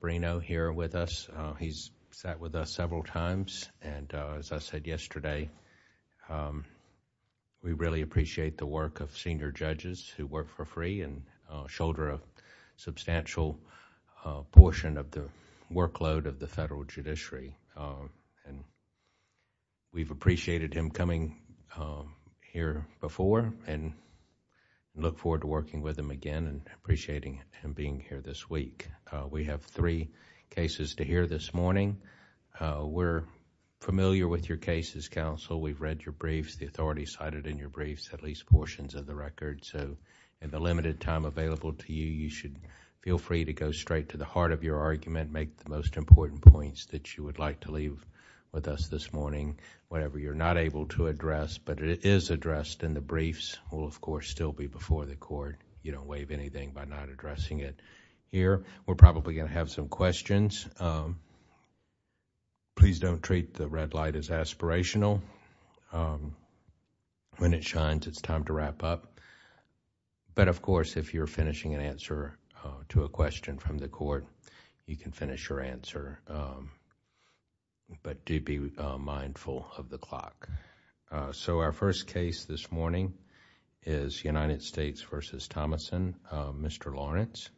Bruno here with us. He's sat with us several times and, as I said yesterday, we really appreciate the work of senior judges who work for free and shoulder a substantial portion of the workload of the federal judiciary. We've appreciated him coming here before and look forward to working with him again and appreciating him being here this week. We have three cases to hear this morning. We're familiar with your cases, counsel. We've read your briefs, the authority cited in your briefs, at least portions of the record. In the limited time available to you, you should feel free to go straight to the heart of your argument, make the most important points that you would like to leave with us this morning, whatever you're not able to address, but it is addressed and the briefs will, of course, still be before the court. You don't waive anything by not addressing it here. We're probably going to have some questions. Please don't treat the red light as aspirational. When it shines, it's time to wrap up. Of course, if you're finishing an answer to a question from the court, you can finish your answer, but do be mindful of the clock. Our first case this morning is United States v. Thomason. Mr. Lawrence.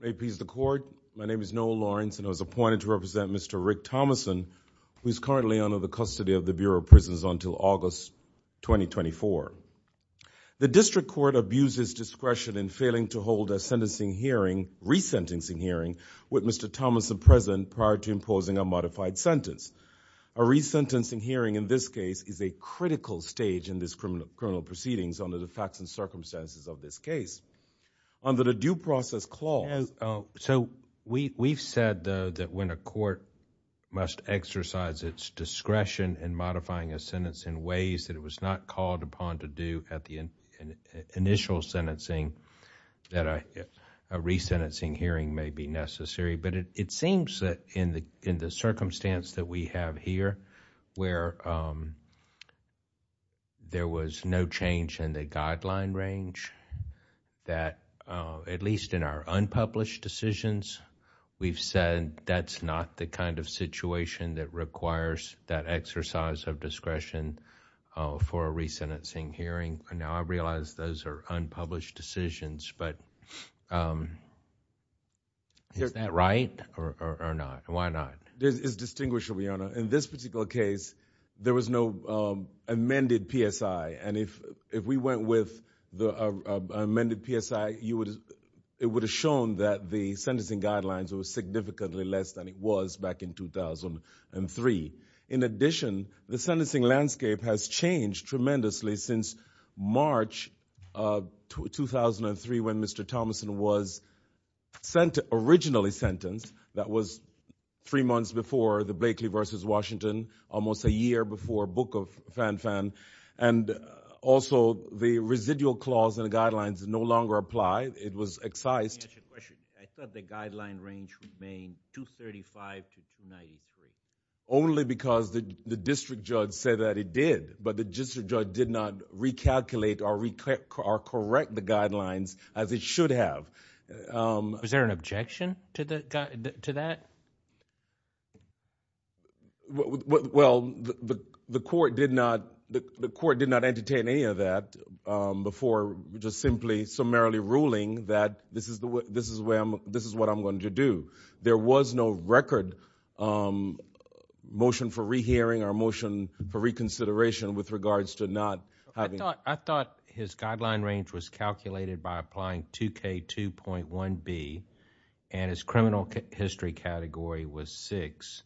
May it please the court, my name is Noel Lawrence and I was appointed to represent Mr. Rick Thomason, who is currently under the custody of the Bureau of Prisons until August 2024. The district court abused its discretion in failing to hold a sentencing hearing, resentencing A resentencing hearing, in this case, is a critical stage in this criminal proceedings under the facts and circumstances of this case. Under the due process clause... We've said, though, that when a court must exercise its discretion in modifying a sentence in ways that it was not called upon to do at the initial sentencing, that a resentencing hearing may be necessary, but it seems that in the circumstance that we have here, where there was no change in the guideline range, that at least in our unpublished decisions, we've said that's not the kind of situation that requires that exercise of discretion for a resentencing hearing. Now, I realize those are unpublished decisions, but is that right or not? Why not? It's distinguishable, Your Honor. In this particular case, there was no amended PSI, and if we went with the amended PSI, it would have shown that the sentencing guidelines were significantly less than it was back in 2003. In addition, the sentencing landscape has changed tremendously since March of 2003, when Mr. Thomason was originally sentenced. That was three months before the Blakeley v. Washington, almost a year before Book of Fanfan, and also the residual clause in the guidelines no longer applied. It was excised. Let me ask you a question. I thought the guideline range remained 235 to 293. Only because the district judge said that it did, but the district judge did not recalculate or correct the guidelines as it should have. Was there an objection to that? Well, the court did not entertain any of that before just simply summarily ruling that this is what I'm going to do. There was no record motion for rehearing or motion for reconsideration with regards to not having... I thought his guideline range was calculated by applying 2K2.1B, and his criminal history category was 6,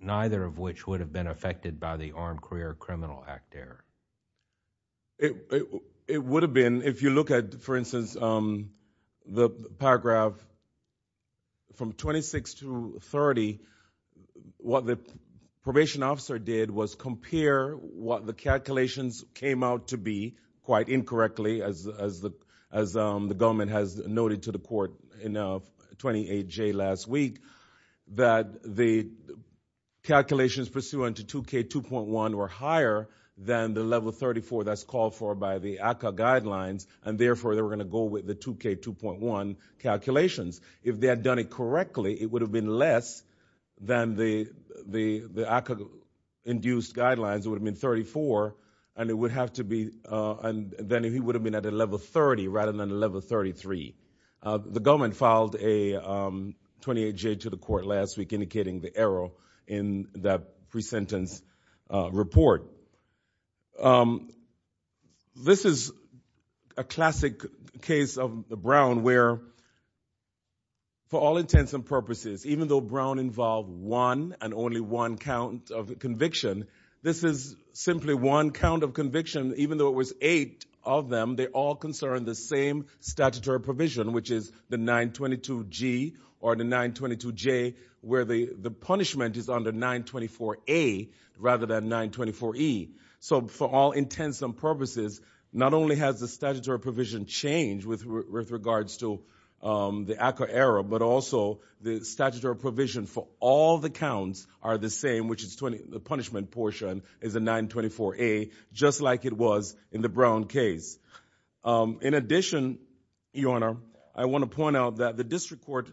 neither of which would have been affected by the Armed Career Criminal Act error. It would have been. If you look at, for instance, the paragraph from 26 to 30, what the probation officer did was compare what the calculations came out to be, quite incorrectly, as the government has noted to the court in 28J last week, that the calculations pursuant to 2K2.1 were higher than the level 34 that's called for by the ACCA guidelines, and therefore they were going to go with the 2K2.1 calculations. If they had done it correctly, it would have been less than the ACCA-induced guidelines. It would have been 34, and then he would have been at a level 30 rather than a level 33. The government filed a 28J to the court last week indicating the error in that pre-sentence report. This is a classic case of Brown where, for all intents and purposes, even though Brown involved one and only one count of conviction, this is simply one count of conviction, even though it was eight of them, they all concern the same statutory provision, which is the 922G or the 922J, where the punishment is under 924A rather than 924E. For all intents and purposes, not only has the statutory provision changed with regards to the ACCA error, but also the statutory provision for all the counts are the same, which is the punishment portion is a 924A, just like it was in the Brown case. In addition, Your Honor, I want to point out that the district court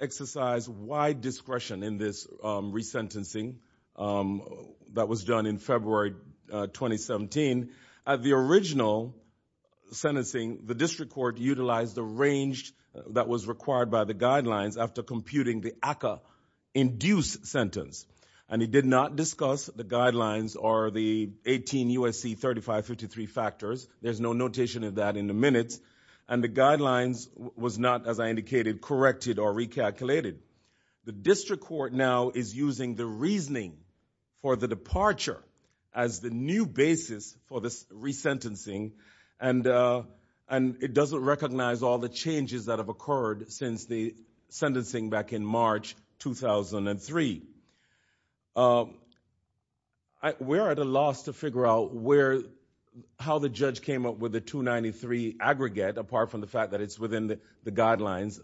exercised wide discretion in this resentencing that was done in February 2017. At the original sentencing, the district court utilized the range that was required by the We did not discuss the guidelines or the 18 U.S.C. 3553 factors. There's no notation of that in the minutes, and the guidelines was not, as I indicated, corrected or recalculated. The district court now is using the reasoning for the departure as the new basis for this resentencing, and it doesn't recognize all the changes that have occurred since the sentencing back in March 2003. We're at a loss to figure out how the judge came up with the 293 aggregate, apart from the fact that it's within the guidelines,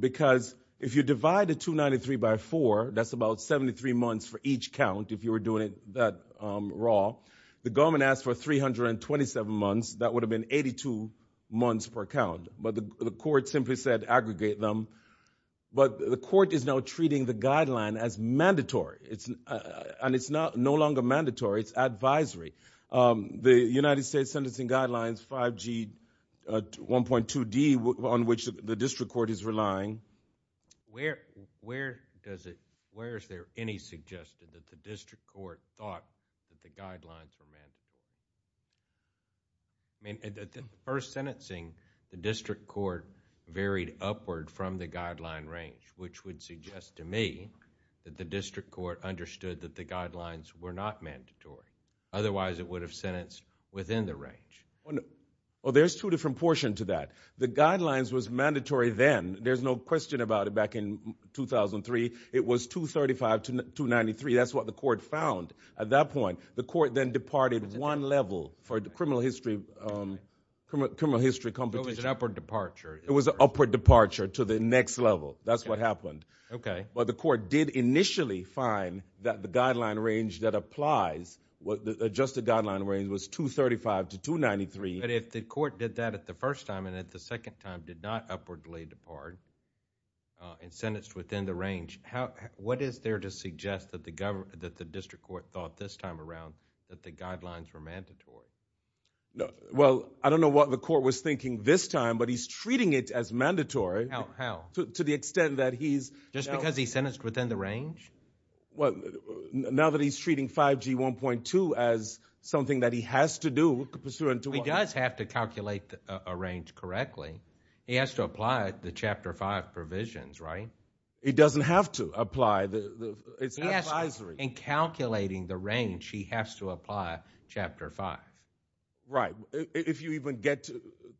because if you divide the 293 by 4, that's about 73 months for each count, if you were doing it that raw. The government asked for 327 months. That would have been 82 months per count, but the court simply said aggregate them. But the court is now treating the guideline as mandatory, and it's no longer mandatory. It's advisory. The United States Sentencing Guidelines 5G 1.2D, on which the district court is relying... Where is there any suggestion that the district court thought that the guidelines were mandatory? At the first sentencing, the district court varied upward from the guideline range, which would suggest to me that the district court understood that the guidelines were not mandatory. Otherwise, it would have sentenced within the range. There's two different portions to that. The guidelines was mandatory then. There's no question about it. Back in 2003, it was 235 to 293. That's what the court found at that point. The court then departed one level for the criminal history competition. It was an upward departure. It was an upward departure to the next level. That's what happened. Okay. But the court did initially find that the guideline range that applies, the adjusted guideline range, was 235 to 293. But if the court did that at the first time and at the second time did not upwardly depart and sentenced within the range, what is there to suggest that the district court thought this time around that the guidelines were mandatory? Well, I don't know what the court was thinking this time, but he's treating it as mandatory. How? To the extent that he's... Just because he sentenced within the range? Well, now that he's treating 5G 1.2 as something that he has to do pursuant to... Well, he does have to calculate a range correctly. He has to apply the Chapter 5 provisions, right? He doesn't have to apply the... He has to. In calculating the range, he has to apply Chapter 5. Right. If you even get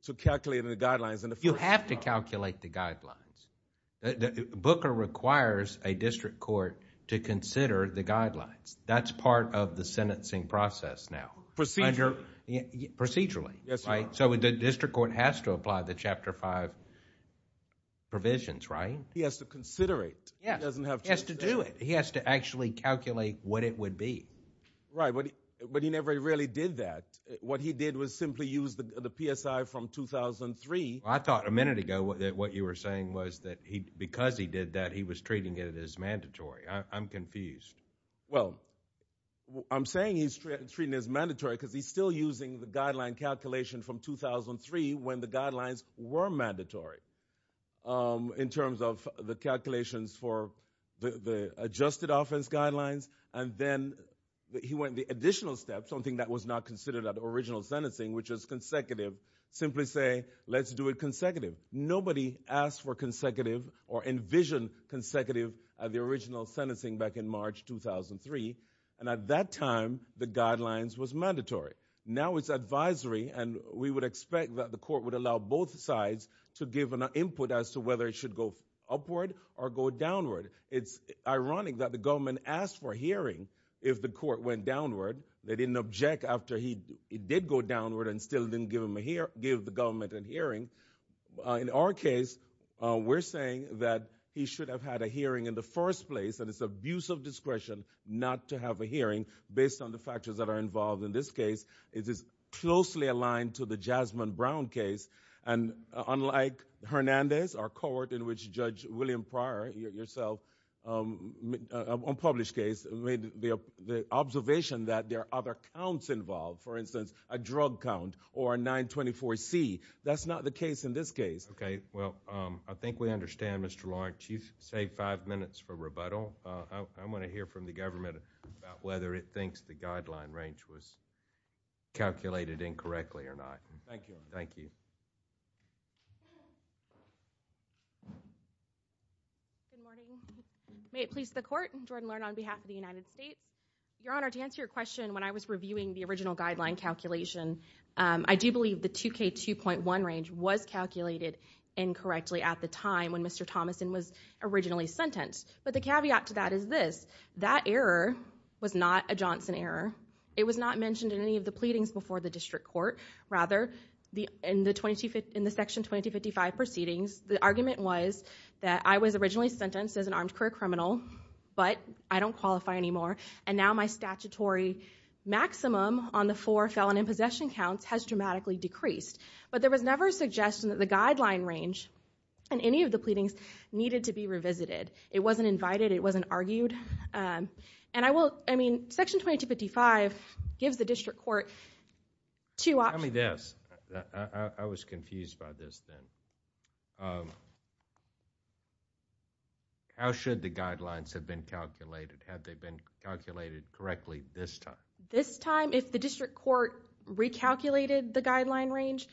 to calculating the guidelines in the first... You have to calculate the guidelines. Booker requires a district court to consider the guidelines. That's part of the sentencing process now. Procedure... Procedurally. Yes, Your Honor. The district court has to apply the Chapter 5 provisions, right? He has to consider it. He doesn't have to... He has to do it. He has to actually calculate what it would be. Right, but he never really did that. What he did was simply use the PSI from 2003. I thought a minute ago that what you were saying was that because he did that, he was treating it as mandatory. I'm confused. Well, I'm saying he's treating it as mandatory because he's still using the guideline calculation from 2003 when the guidelines were mandatory in terms of the calculations for the adjusted offense guidelines. And then he went the additional step, something that was not considered at the original sentencing, which was consecutive. Simply say, let's do it consecutive. Nobody asked for consecutive or envisioned consecutive at the original sentencing back in March 2003. And at that time, the guidelines was mandatory. Now it's advisory, and we would expect that the court would allow both sides to give an input as to whether it should go upward or go downward. It's ironic that the government asked for a hearing if the court went downward. They didn't object after he did go downward and still didn't give the government a hearing. In our case, we're saying that he should have had a hearing in the first place, and it's abuse of discretion not to have a hearing based on the factors that are involved. In this case, it is closely aligned to the Jasmine Brown case. And unlike Hernandez, our court, in which Judge William Pryor, yourself, unpublished case, made the observation that there are other counts involved. For instance, a drug count or a 924C. That's not the case in this case. Okay, well, I think we understand, Mr. Lawrence. You've saved five minutes for rebuttal. I want to hear from the government about whether it thinks the guideline range was calculated incorrectly or not. Thank you. Thank you. Good morning. May it please the Court, Jordan Learn on behalf of the United States. Your Honor, to answer your question, when I was reviewing the original guideline calculation, I do believe the 2K2.1 range was calculated incorrectly at the time when Mr. Thomason was originally sentenced. But the caveat to that is this. That error was not a Johnson error. It was not mentioned in any of the pleadings before the district court. Rather, in the Section 2255 proceedings, the argument was that I was originally sentenced as an armed career criminal, but I don't qualify anymore, and now my statutory maximum on the four felon in possession counts has dramatically decreased. But there was never a suggestion that the guideline range in any of the pleadings needed to be revisited. It wasn't invited. It wasn't argued. Section 2255 gives the district court two options. Tell me this. I was confused by this then. How should the guidelines have been calculated? Had they been calculated correctly this time? This time, if the district court recalculated the guideline range,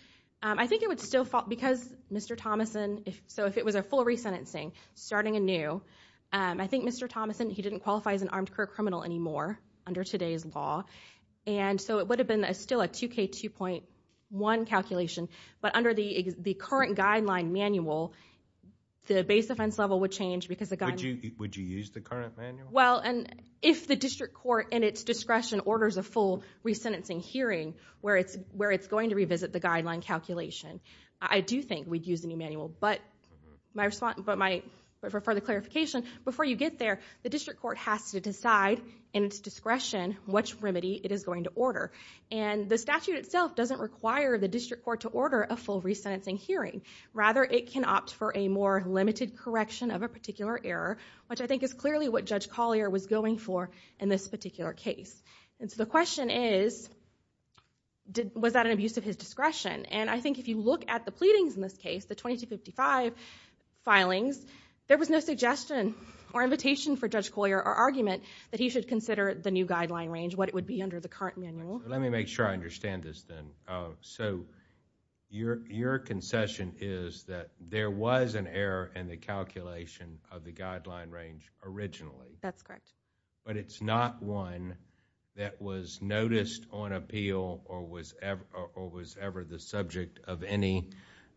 I think it would still fall, because Mr. Thomason, so if it was a full resentencing, starting anew, I think Mr. Thomason, he didn't qualify as an armed career criminal anymore under today's law, and so it would have been still a 2K2.1 calculation, but under the current guideline manual, the base offense level would change because the guideline... Would you use the current manual? Well, if the district court, in its discretion, orders a full resentencing hearing where it's going to revisit the guideline calculation, I do think we'd use the new manual, but for further clarification, before you get there, the district court has to decide, in its discretion, which remedy it is going to order, and the statute itself doesn't require the district court to order a full resentencing hearing. Rather, it can opt for a more limited correction of a particular error, which I think is clearly what Judge Collier was going for in this particular case. And so the question is, was that an abuse of his discretion? And I think if you look at the pleadings in this case, the 2255 filings, there was no suggestion or invitation for Judge Collier or argument that he should consider the new guideline range, what it would be under the current manual. Let me make sure I understand this then. So your concession is that there was an error in the calculation of the guideline range originally. That's correct. But it's not one that was noticed on appeal or was ever the subject of any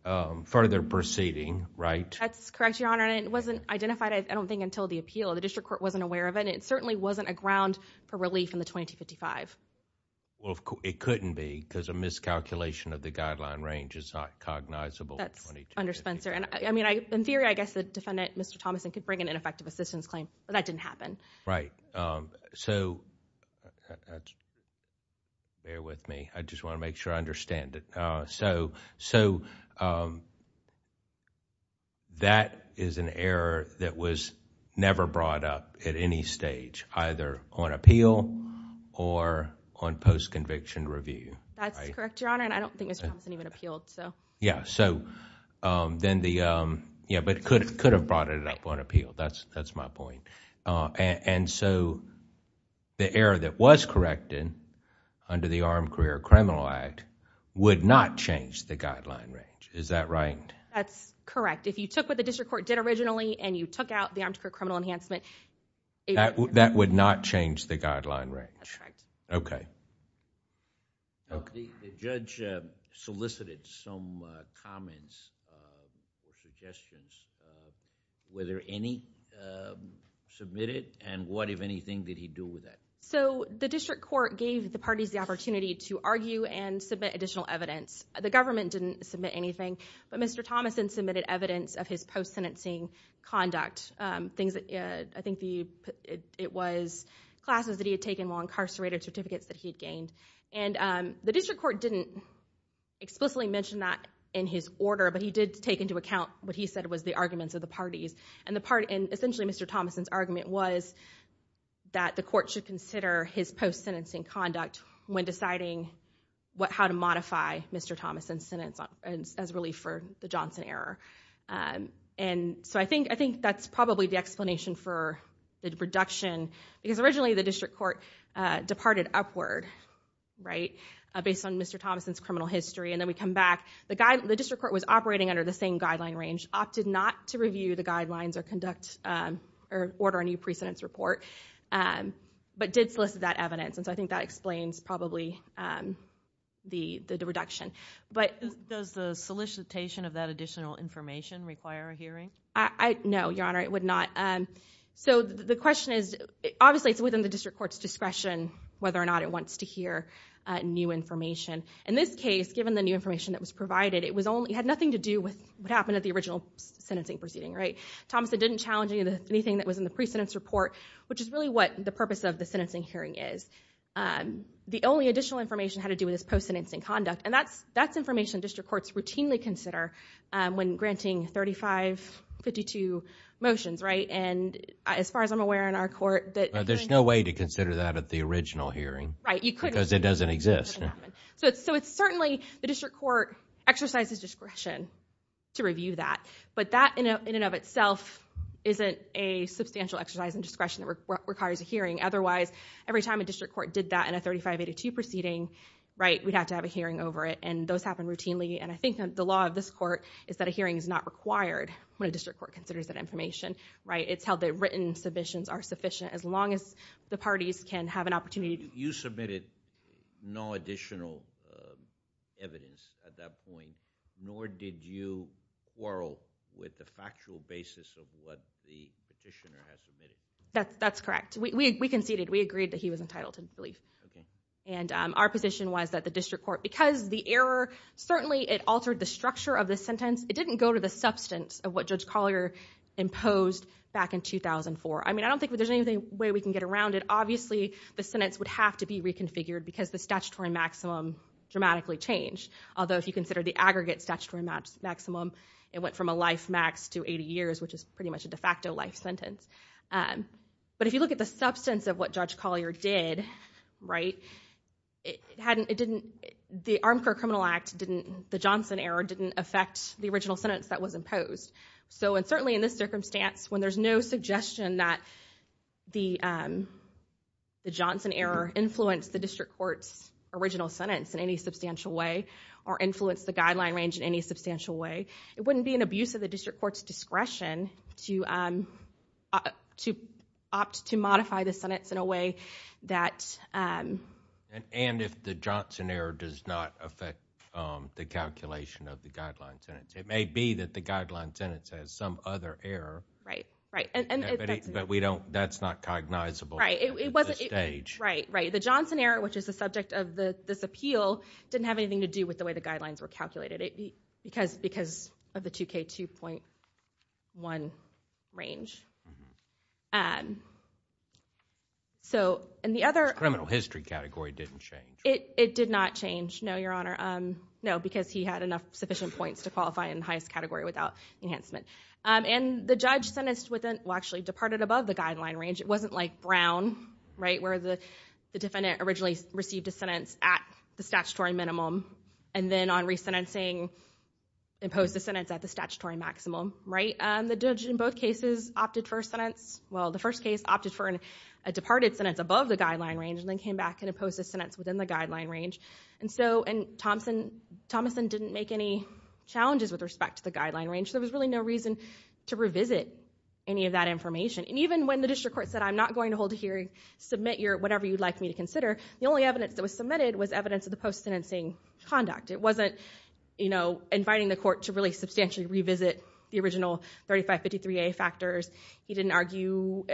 further proceeding, right? That's correct, Your Honor, and it wasn't identified, I don't think, until the appeal. The district court wasn't aware of it, and it certainly wasn't a ground for relief in the 2255. Well, it couldn't be, because a miscalculation of the guideline range is not cognizable in the 2255. In theory, I guess the defendant, Mr. Thomason, could bring an ineffective assistance claim, but that didn't happen. Right. Bear with me. I just want to make sure I understand it. So that is an error that was never brought up at any stage, either on appeal or on post-conviction review. That's correct, Your Honor, and I don't think Mr. Thomason even appealed. Yeah, but could have brought it up on appeal. That's my point. And so the error that was corrected under the Armed Career Criminal Act would not change the guideline range. Is that right? That's correct. If you took what the district court did originally and you took out the Armed Career Criminal Enhancement... That would not change the guideline range. That's right. Okay. The judge solicited some comments or suggestions. Were there any submitted, and what, if anything, did he do with that? So the district court gave the parties the opportunity to argue and submit additional evidence. The government didn't submit anything, but Mr. Thomason submitted evidence of his post-sentencing conduct. I think it was classes that he had taken or incarcerated certificates that he had gained. And the district court didn't explicitly mention that in his order, but he did take into account what he said was the arguments of the parties. And essentially Mr. Thomason's argument was that the court should consider his post-sentencing conduct when deciding how to modify Mr. Thomason's sentence as relief for the Johnson error. And so I think that's probably the explanation for the reduction. Because originally the district court departed upward, right, based on Mr. Thomason's criminal history. And then we come back. The district court was operating under the same guideline range, opted not to review the guidelines or order a new pre-sentence report, but did solicit that evidence. And so I think that explains probably the reduction. Does the solicitation of that additional information require a hearing? No, Your Honor, it would not. So the question is, obviously it's within the district court's discretion whether or not it wants to hear new information. In this case, given the new information that was provided, it had nothing to do with what happened at the original sentencing proceeding, right? Thomason didn't challenge anything that was in the pre-sentence report, which is really what the purpose of the sentencing hearing is. The only additional information had to do with his post-sentencing conduct, and that's information district courts routinely consider when granting 3552 motions, right? And as far as I'm aware in our court, there's no way to consider that at the original hearing. Right, you couldn't. Because it doesn't exist. So it's certainly the district court exercises discretion to review that. But that in and of itself isn't a substantial exercise in discretion that requires a hearing. Otherwise, every time a district court did that in a 3582 proceeding, right, we'd have to have a hearing over it. And those happen routinely. And I think the law of this court is that a hearing is not required when a district court considers that information, right? It's how the written submissions are sufficient. As long as the parties can have an opportunity to... You submitted no additional evidence at that point, nor did you quarrel with the factual basis of what the petitioner had submitted. That's correct. We conceded. We agreed that he was entitled to leave. Okay. And our position was that the district court, because the error certainly it altered the structure of the sentence, it didn't go to the substance of what Judge Collier imposed back in 2004. I mean, I don't think there's any way we can get around it. Obviously, the sentence would have to be reconfigured because the statutory maximum dramatically changed. Although, if you consider the aggregate statutory maximum, it went from a life max to 80 years, which is pretty much a de facto life sentence. But if you look at the substance of what Judge Collier did, right, it didn't... The Armchair Criminal Act didn't... The Johnson error didn't affect the original sentence that was imposed. So, and certainly in this circumstance, when there's no suggestion that the Johnson error influenced the district court's original sentence in any substantial way or influenced the guideline range in any substantial way, it wouldn't be an abuse of the district court's discretion to opt to modify the sentence in a way that... And if the Johnson error does not affect the calculation of the guideline sentence. It may be that the guideline sentence has some other error. Right, right. But we don't... That's not cognizable at this stage. Right, right. The Johnson error, which is the subject of this appeal, didn't have anything to do with the way the guidelines were calculated because of the 2K2.1 range. So, and the other... The criminal history category didn't change. It did not change. No, Your Honor. No, because he had enough sufficient points to qualify in the highest category without enhancement. And the judge sentenced within... Well, actually departed above the guideline range. It wasn't like Brown, right, where the defendant originally received a sentence at the statutory minimum and then on re-sentencing, imposed a sentence at the statutory maximum, right? The judge in both cases opted for a sentence... Well, the first case opted for a departed sentence above the guideline range and then came back and imposed a sentence within the guideline range. And Thompson didn't make any challenges with respect to the guideline range. There was really no reason to revisit any of that information. And even when the district court said, I'm not going to hold a hearing, submit whatever you'd like me to consider, the only evidence that was submitted was evidence of the post-sentencing conduct. It wasn't inviting the court to really substantially revisit the original 3553A factors. He didn't argue,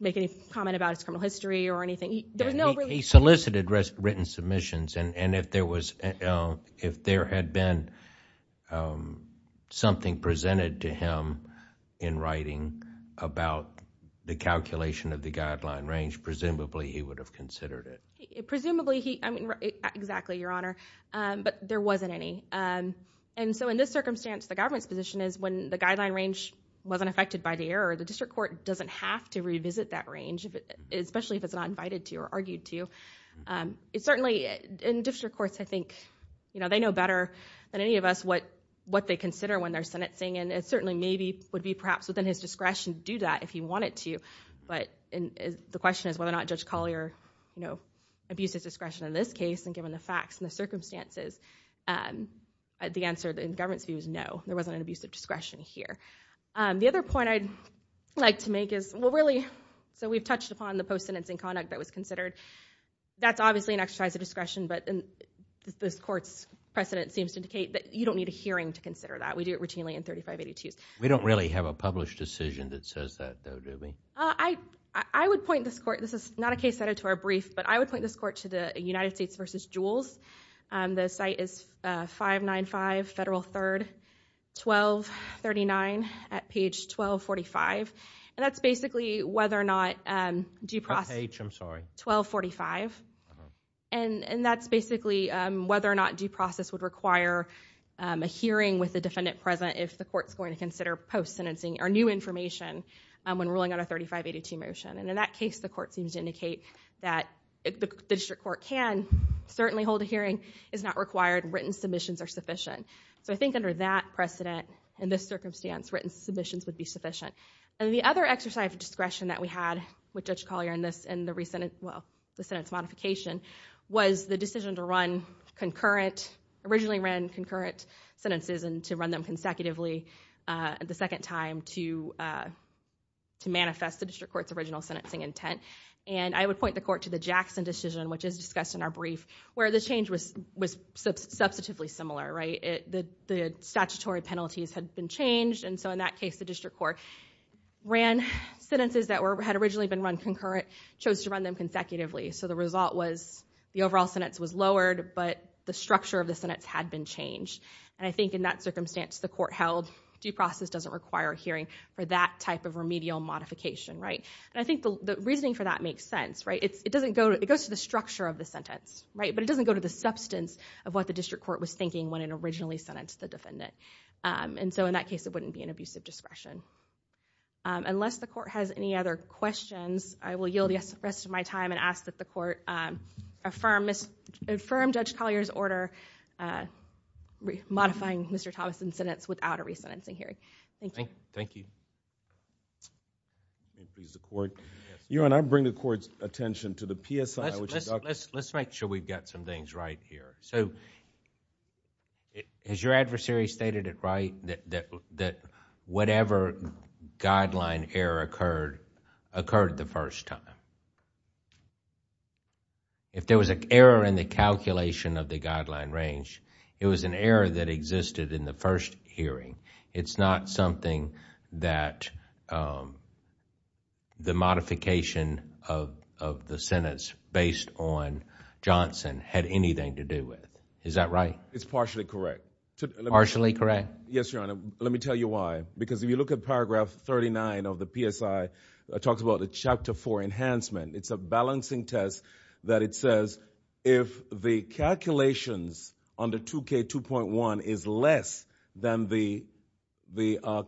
make any comment about his criminal history or anything. He solicited written submissions, and if there had been something presented to him in writing about the calculation of the guideline range, presumably he would have considered it. Presumably he... Exactly, Your Honor. But there wasn't any. And so in this circumstance, the government's position is when the guideline range wasn't affected by the error, the district court doesn't have to revisit that range, especially if it's not invited to or argued to. It certainly... And district courts, I think, you know, they know better than any of us what they consider when they're sentencing, and it certainly maybe would be perhaps within his discretion to do that if he wanted to. But the question is whether or not Judge Collier, you know, abuses discretion in this case, and given the facts and the circumstances, the answer in the government's view is no. There wasn't an abuse of discretion here. The other point I'd like to make is, well, really, so we've touched upon the post-sentencing conduct that was considered. That's obviously an exercise of discretion, but this court's precedent seems to indicate that you don't need a hearing to consider that. We do it routinely in 3582s. We don't really have a published decision that says that, though, do we? I would point this court... This is not a case that is to our brief, but I would point this court to the United States v. Jules. The site is 595 Federal 3rd, 1239, at page 1245. And that's basically whether or not due process... What page? I'm sorry. 1245. And that's basically whether or not due process would require a hearing with the defendant present if the court's going to consider post-sentencing or new information when ruling on a 3582 motion. And in that case, the court seems to indicate that the district court can certainly hold a hearing. It's not required. Written submissions are sufficient. So I think under that precedent, in this circumstance, written submissions would be sufficient. And the other exercise of discretion that we had with Judge Collier in the recent... well, the sentence modification was the decision to run concurrent... originally ran concurrent sentences and to run them consecutively the second time to manifest the district court's original sentencing intent. And I would point the court to the Jackson decision, which is discussed in our brief, where the change was substantively similar, right? The statutory penalties had been changed. And so in that case, the district court ran sentences that had originally been run concurrent, chose to run them consecutively. So the result was the overall sentence was lowered, but the structure of the sentence had been changed. And I think in that circumstance, the court held due process doesn't require a hearing for that type of remedial modification, right? And I think the reasoning for that makes sense, right? It doesn't go... it goes to the structure of the sentence, right? But it doesn't go to the substance of what the district court was thinking when it originally sentenced the defendant. And so in that case, it wouldn't be an abusive discretion. Unless the court has any other questions, I will yield the rest of my time and ask that the court affirm Judge Collier's order for modifying Mr. Thomason's sentence without a resentencing hearing. Thank you. Thank you. Thank you. Please, the court. Your Honor, I bring the court's attention to the PSI, which is a document... Let's make sure we've got some things right here. So has your adversary stated it right that whatever guideline error occurred, occurred the first time? If there was an error in the calculation of the guideline range, it was an error that existed in the first hearing. It's not something that the modification of the sentence based on Johnson had anything to do with. Is that right? It's partially correct. Partially correct? Yes, Your Honor. Let me tell you why. Because if you look at paragraph 39 of the PSI, it talks about a Chapter 4 enhancement. It's a balancing test that it says if the calculations under 2K2.1 is less than the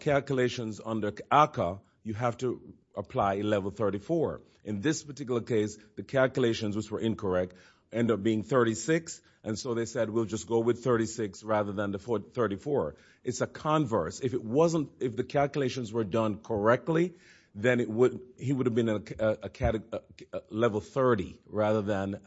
calculations under ACCA, you have to apply Level 34. In this particular case, the calculations, which were incorrect, end up being 36, and so they said we'll just go with 36 rather than 34. It's a converse. It's a converse. If the calculations were done correctly, then he would have been at Level 30 rather than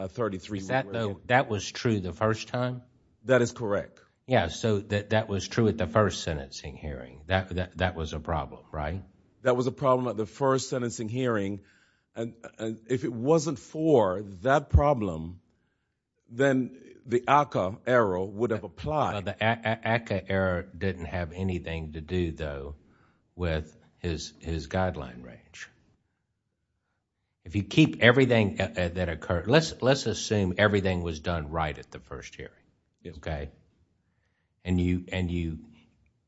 33. That was true the first time? That is correct. Yes, so that was true at the first sentencing hearing. That was a problem, right? That was a problem at the first sentencing hearing. If it wasn't for that problem, then the ACCA error would have applied. The ACCA error didn't have anything to do, though, with his guideline range. If you keep everything that occurred... Let's assume everything was done right at the first hearing, okay? You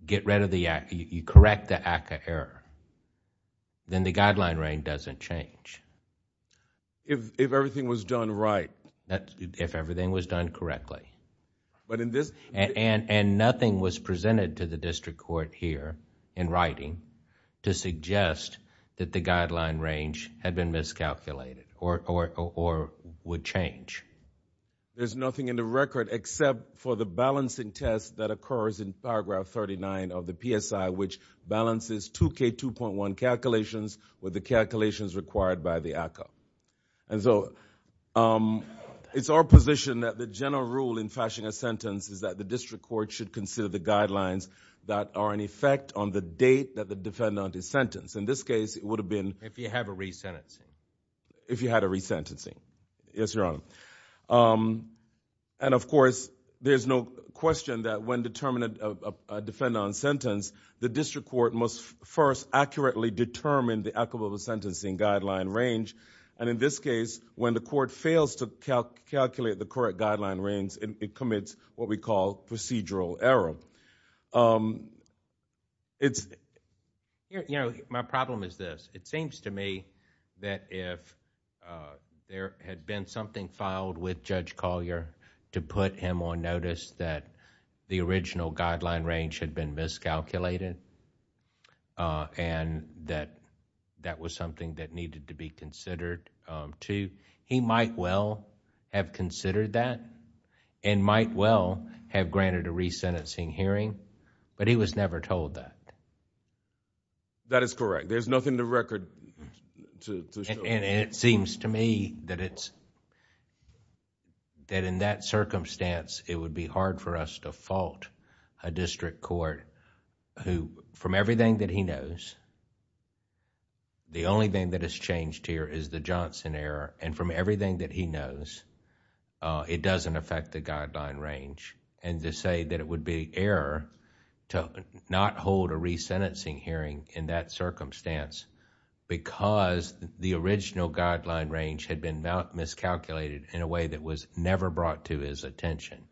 correct the ACCA error. Then the guideline range doesn't change. If everything was done right? If everything was done correctly. Nothing was presented to the district court here in writing to suggest that the guideline range had been miscalculated or would change. There's nothing in the record except for the balancing test that occurs in Paragraph 39 of the PSI, which balances 2K2.1 calculations with the calculations required by the ACCA. It's our position that the general rule in fashioning a sentence is that the district court should consider the guidelines that are in effect on the date that the defendant is sentenced. In this case, it would have been... If you had a resentencing. If you had a resentencing, yes, Your Honor. Of course, there's no question that when determining a defendant on sentence, the district court must first accurately determine the equitable sentencing guideline range. In this case, when the court fails to calculate the correct guideline range, it commits what we call procedural error. It's... My problem is this. It seems to me that if there had been something filed with Judge Collier to put him on notice that the original guideline range had been miscalculated and that that was something that needed to be considered too, he might well have considered that and might well have granted a resentencing hearing, but he was never told that. That is correct. There's nothing in the record to show... It seems to me that in that circumstance, it would be hard for us to fault a district court who, from everything that he knows... The only thing that has changed here is the Johnson error, and from everything that he knows, it doesn't affect the guideline range. To say that it would be error to not hold a resentencing hearing in that circumstance because the original guideline range had been miscalculated in a way that was never brought to his attention,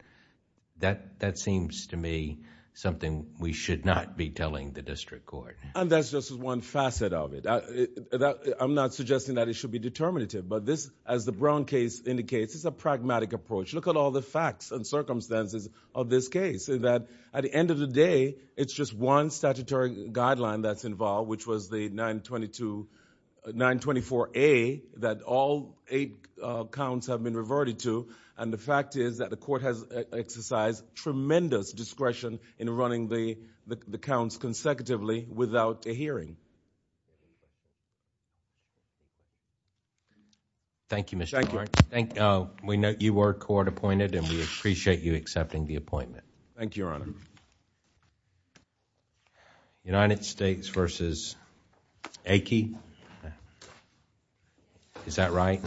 that seems to me something we should not be telling the district court. That's just one facet of it. I'm not suggesting that it should be determinative, but this, as the Brown case indicates, is a pragmatic approach. Look at all the facts and circumstances of this case. At the end of the day, it's just one statutory guideline that's involved, which was the 924A that all eight counts have been reverted to. The fact is that the court has exercised tremendous discretion in running the counts consecutively without a hearing. Thank you, Mr. Clark. We note you were court appointed, Thank you, Your Honor. United States v. Aike? Is that right?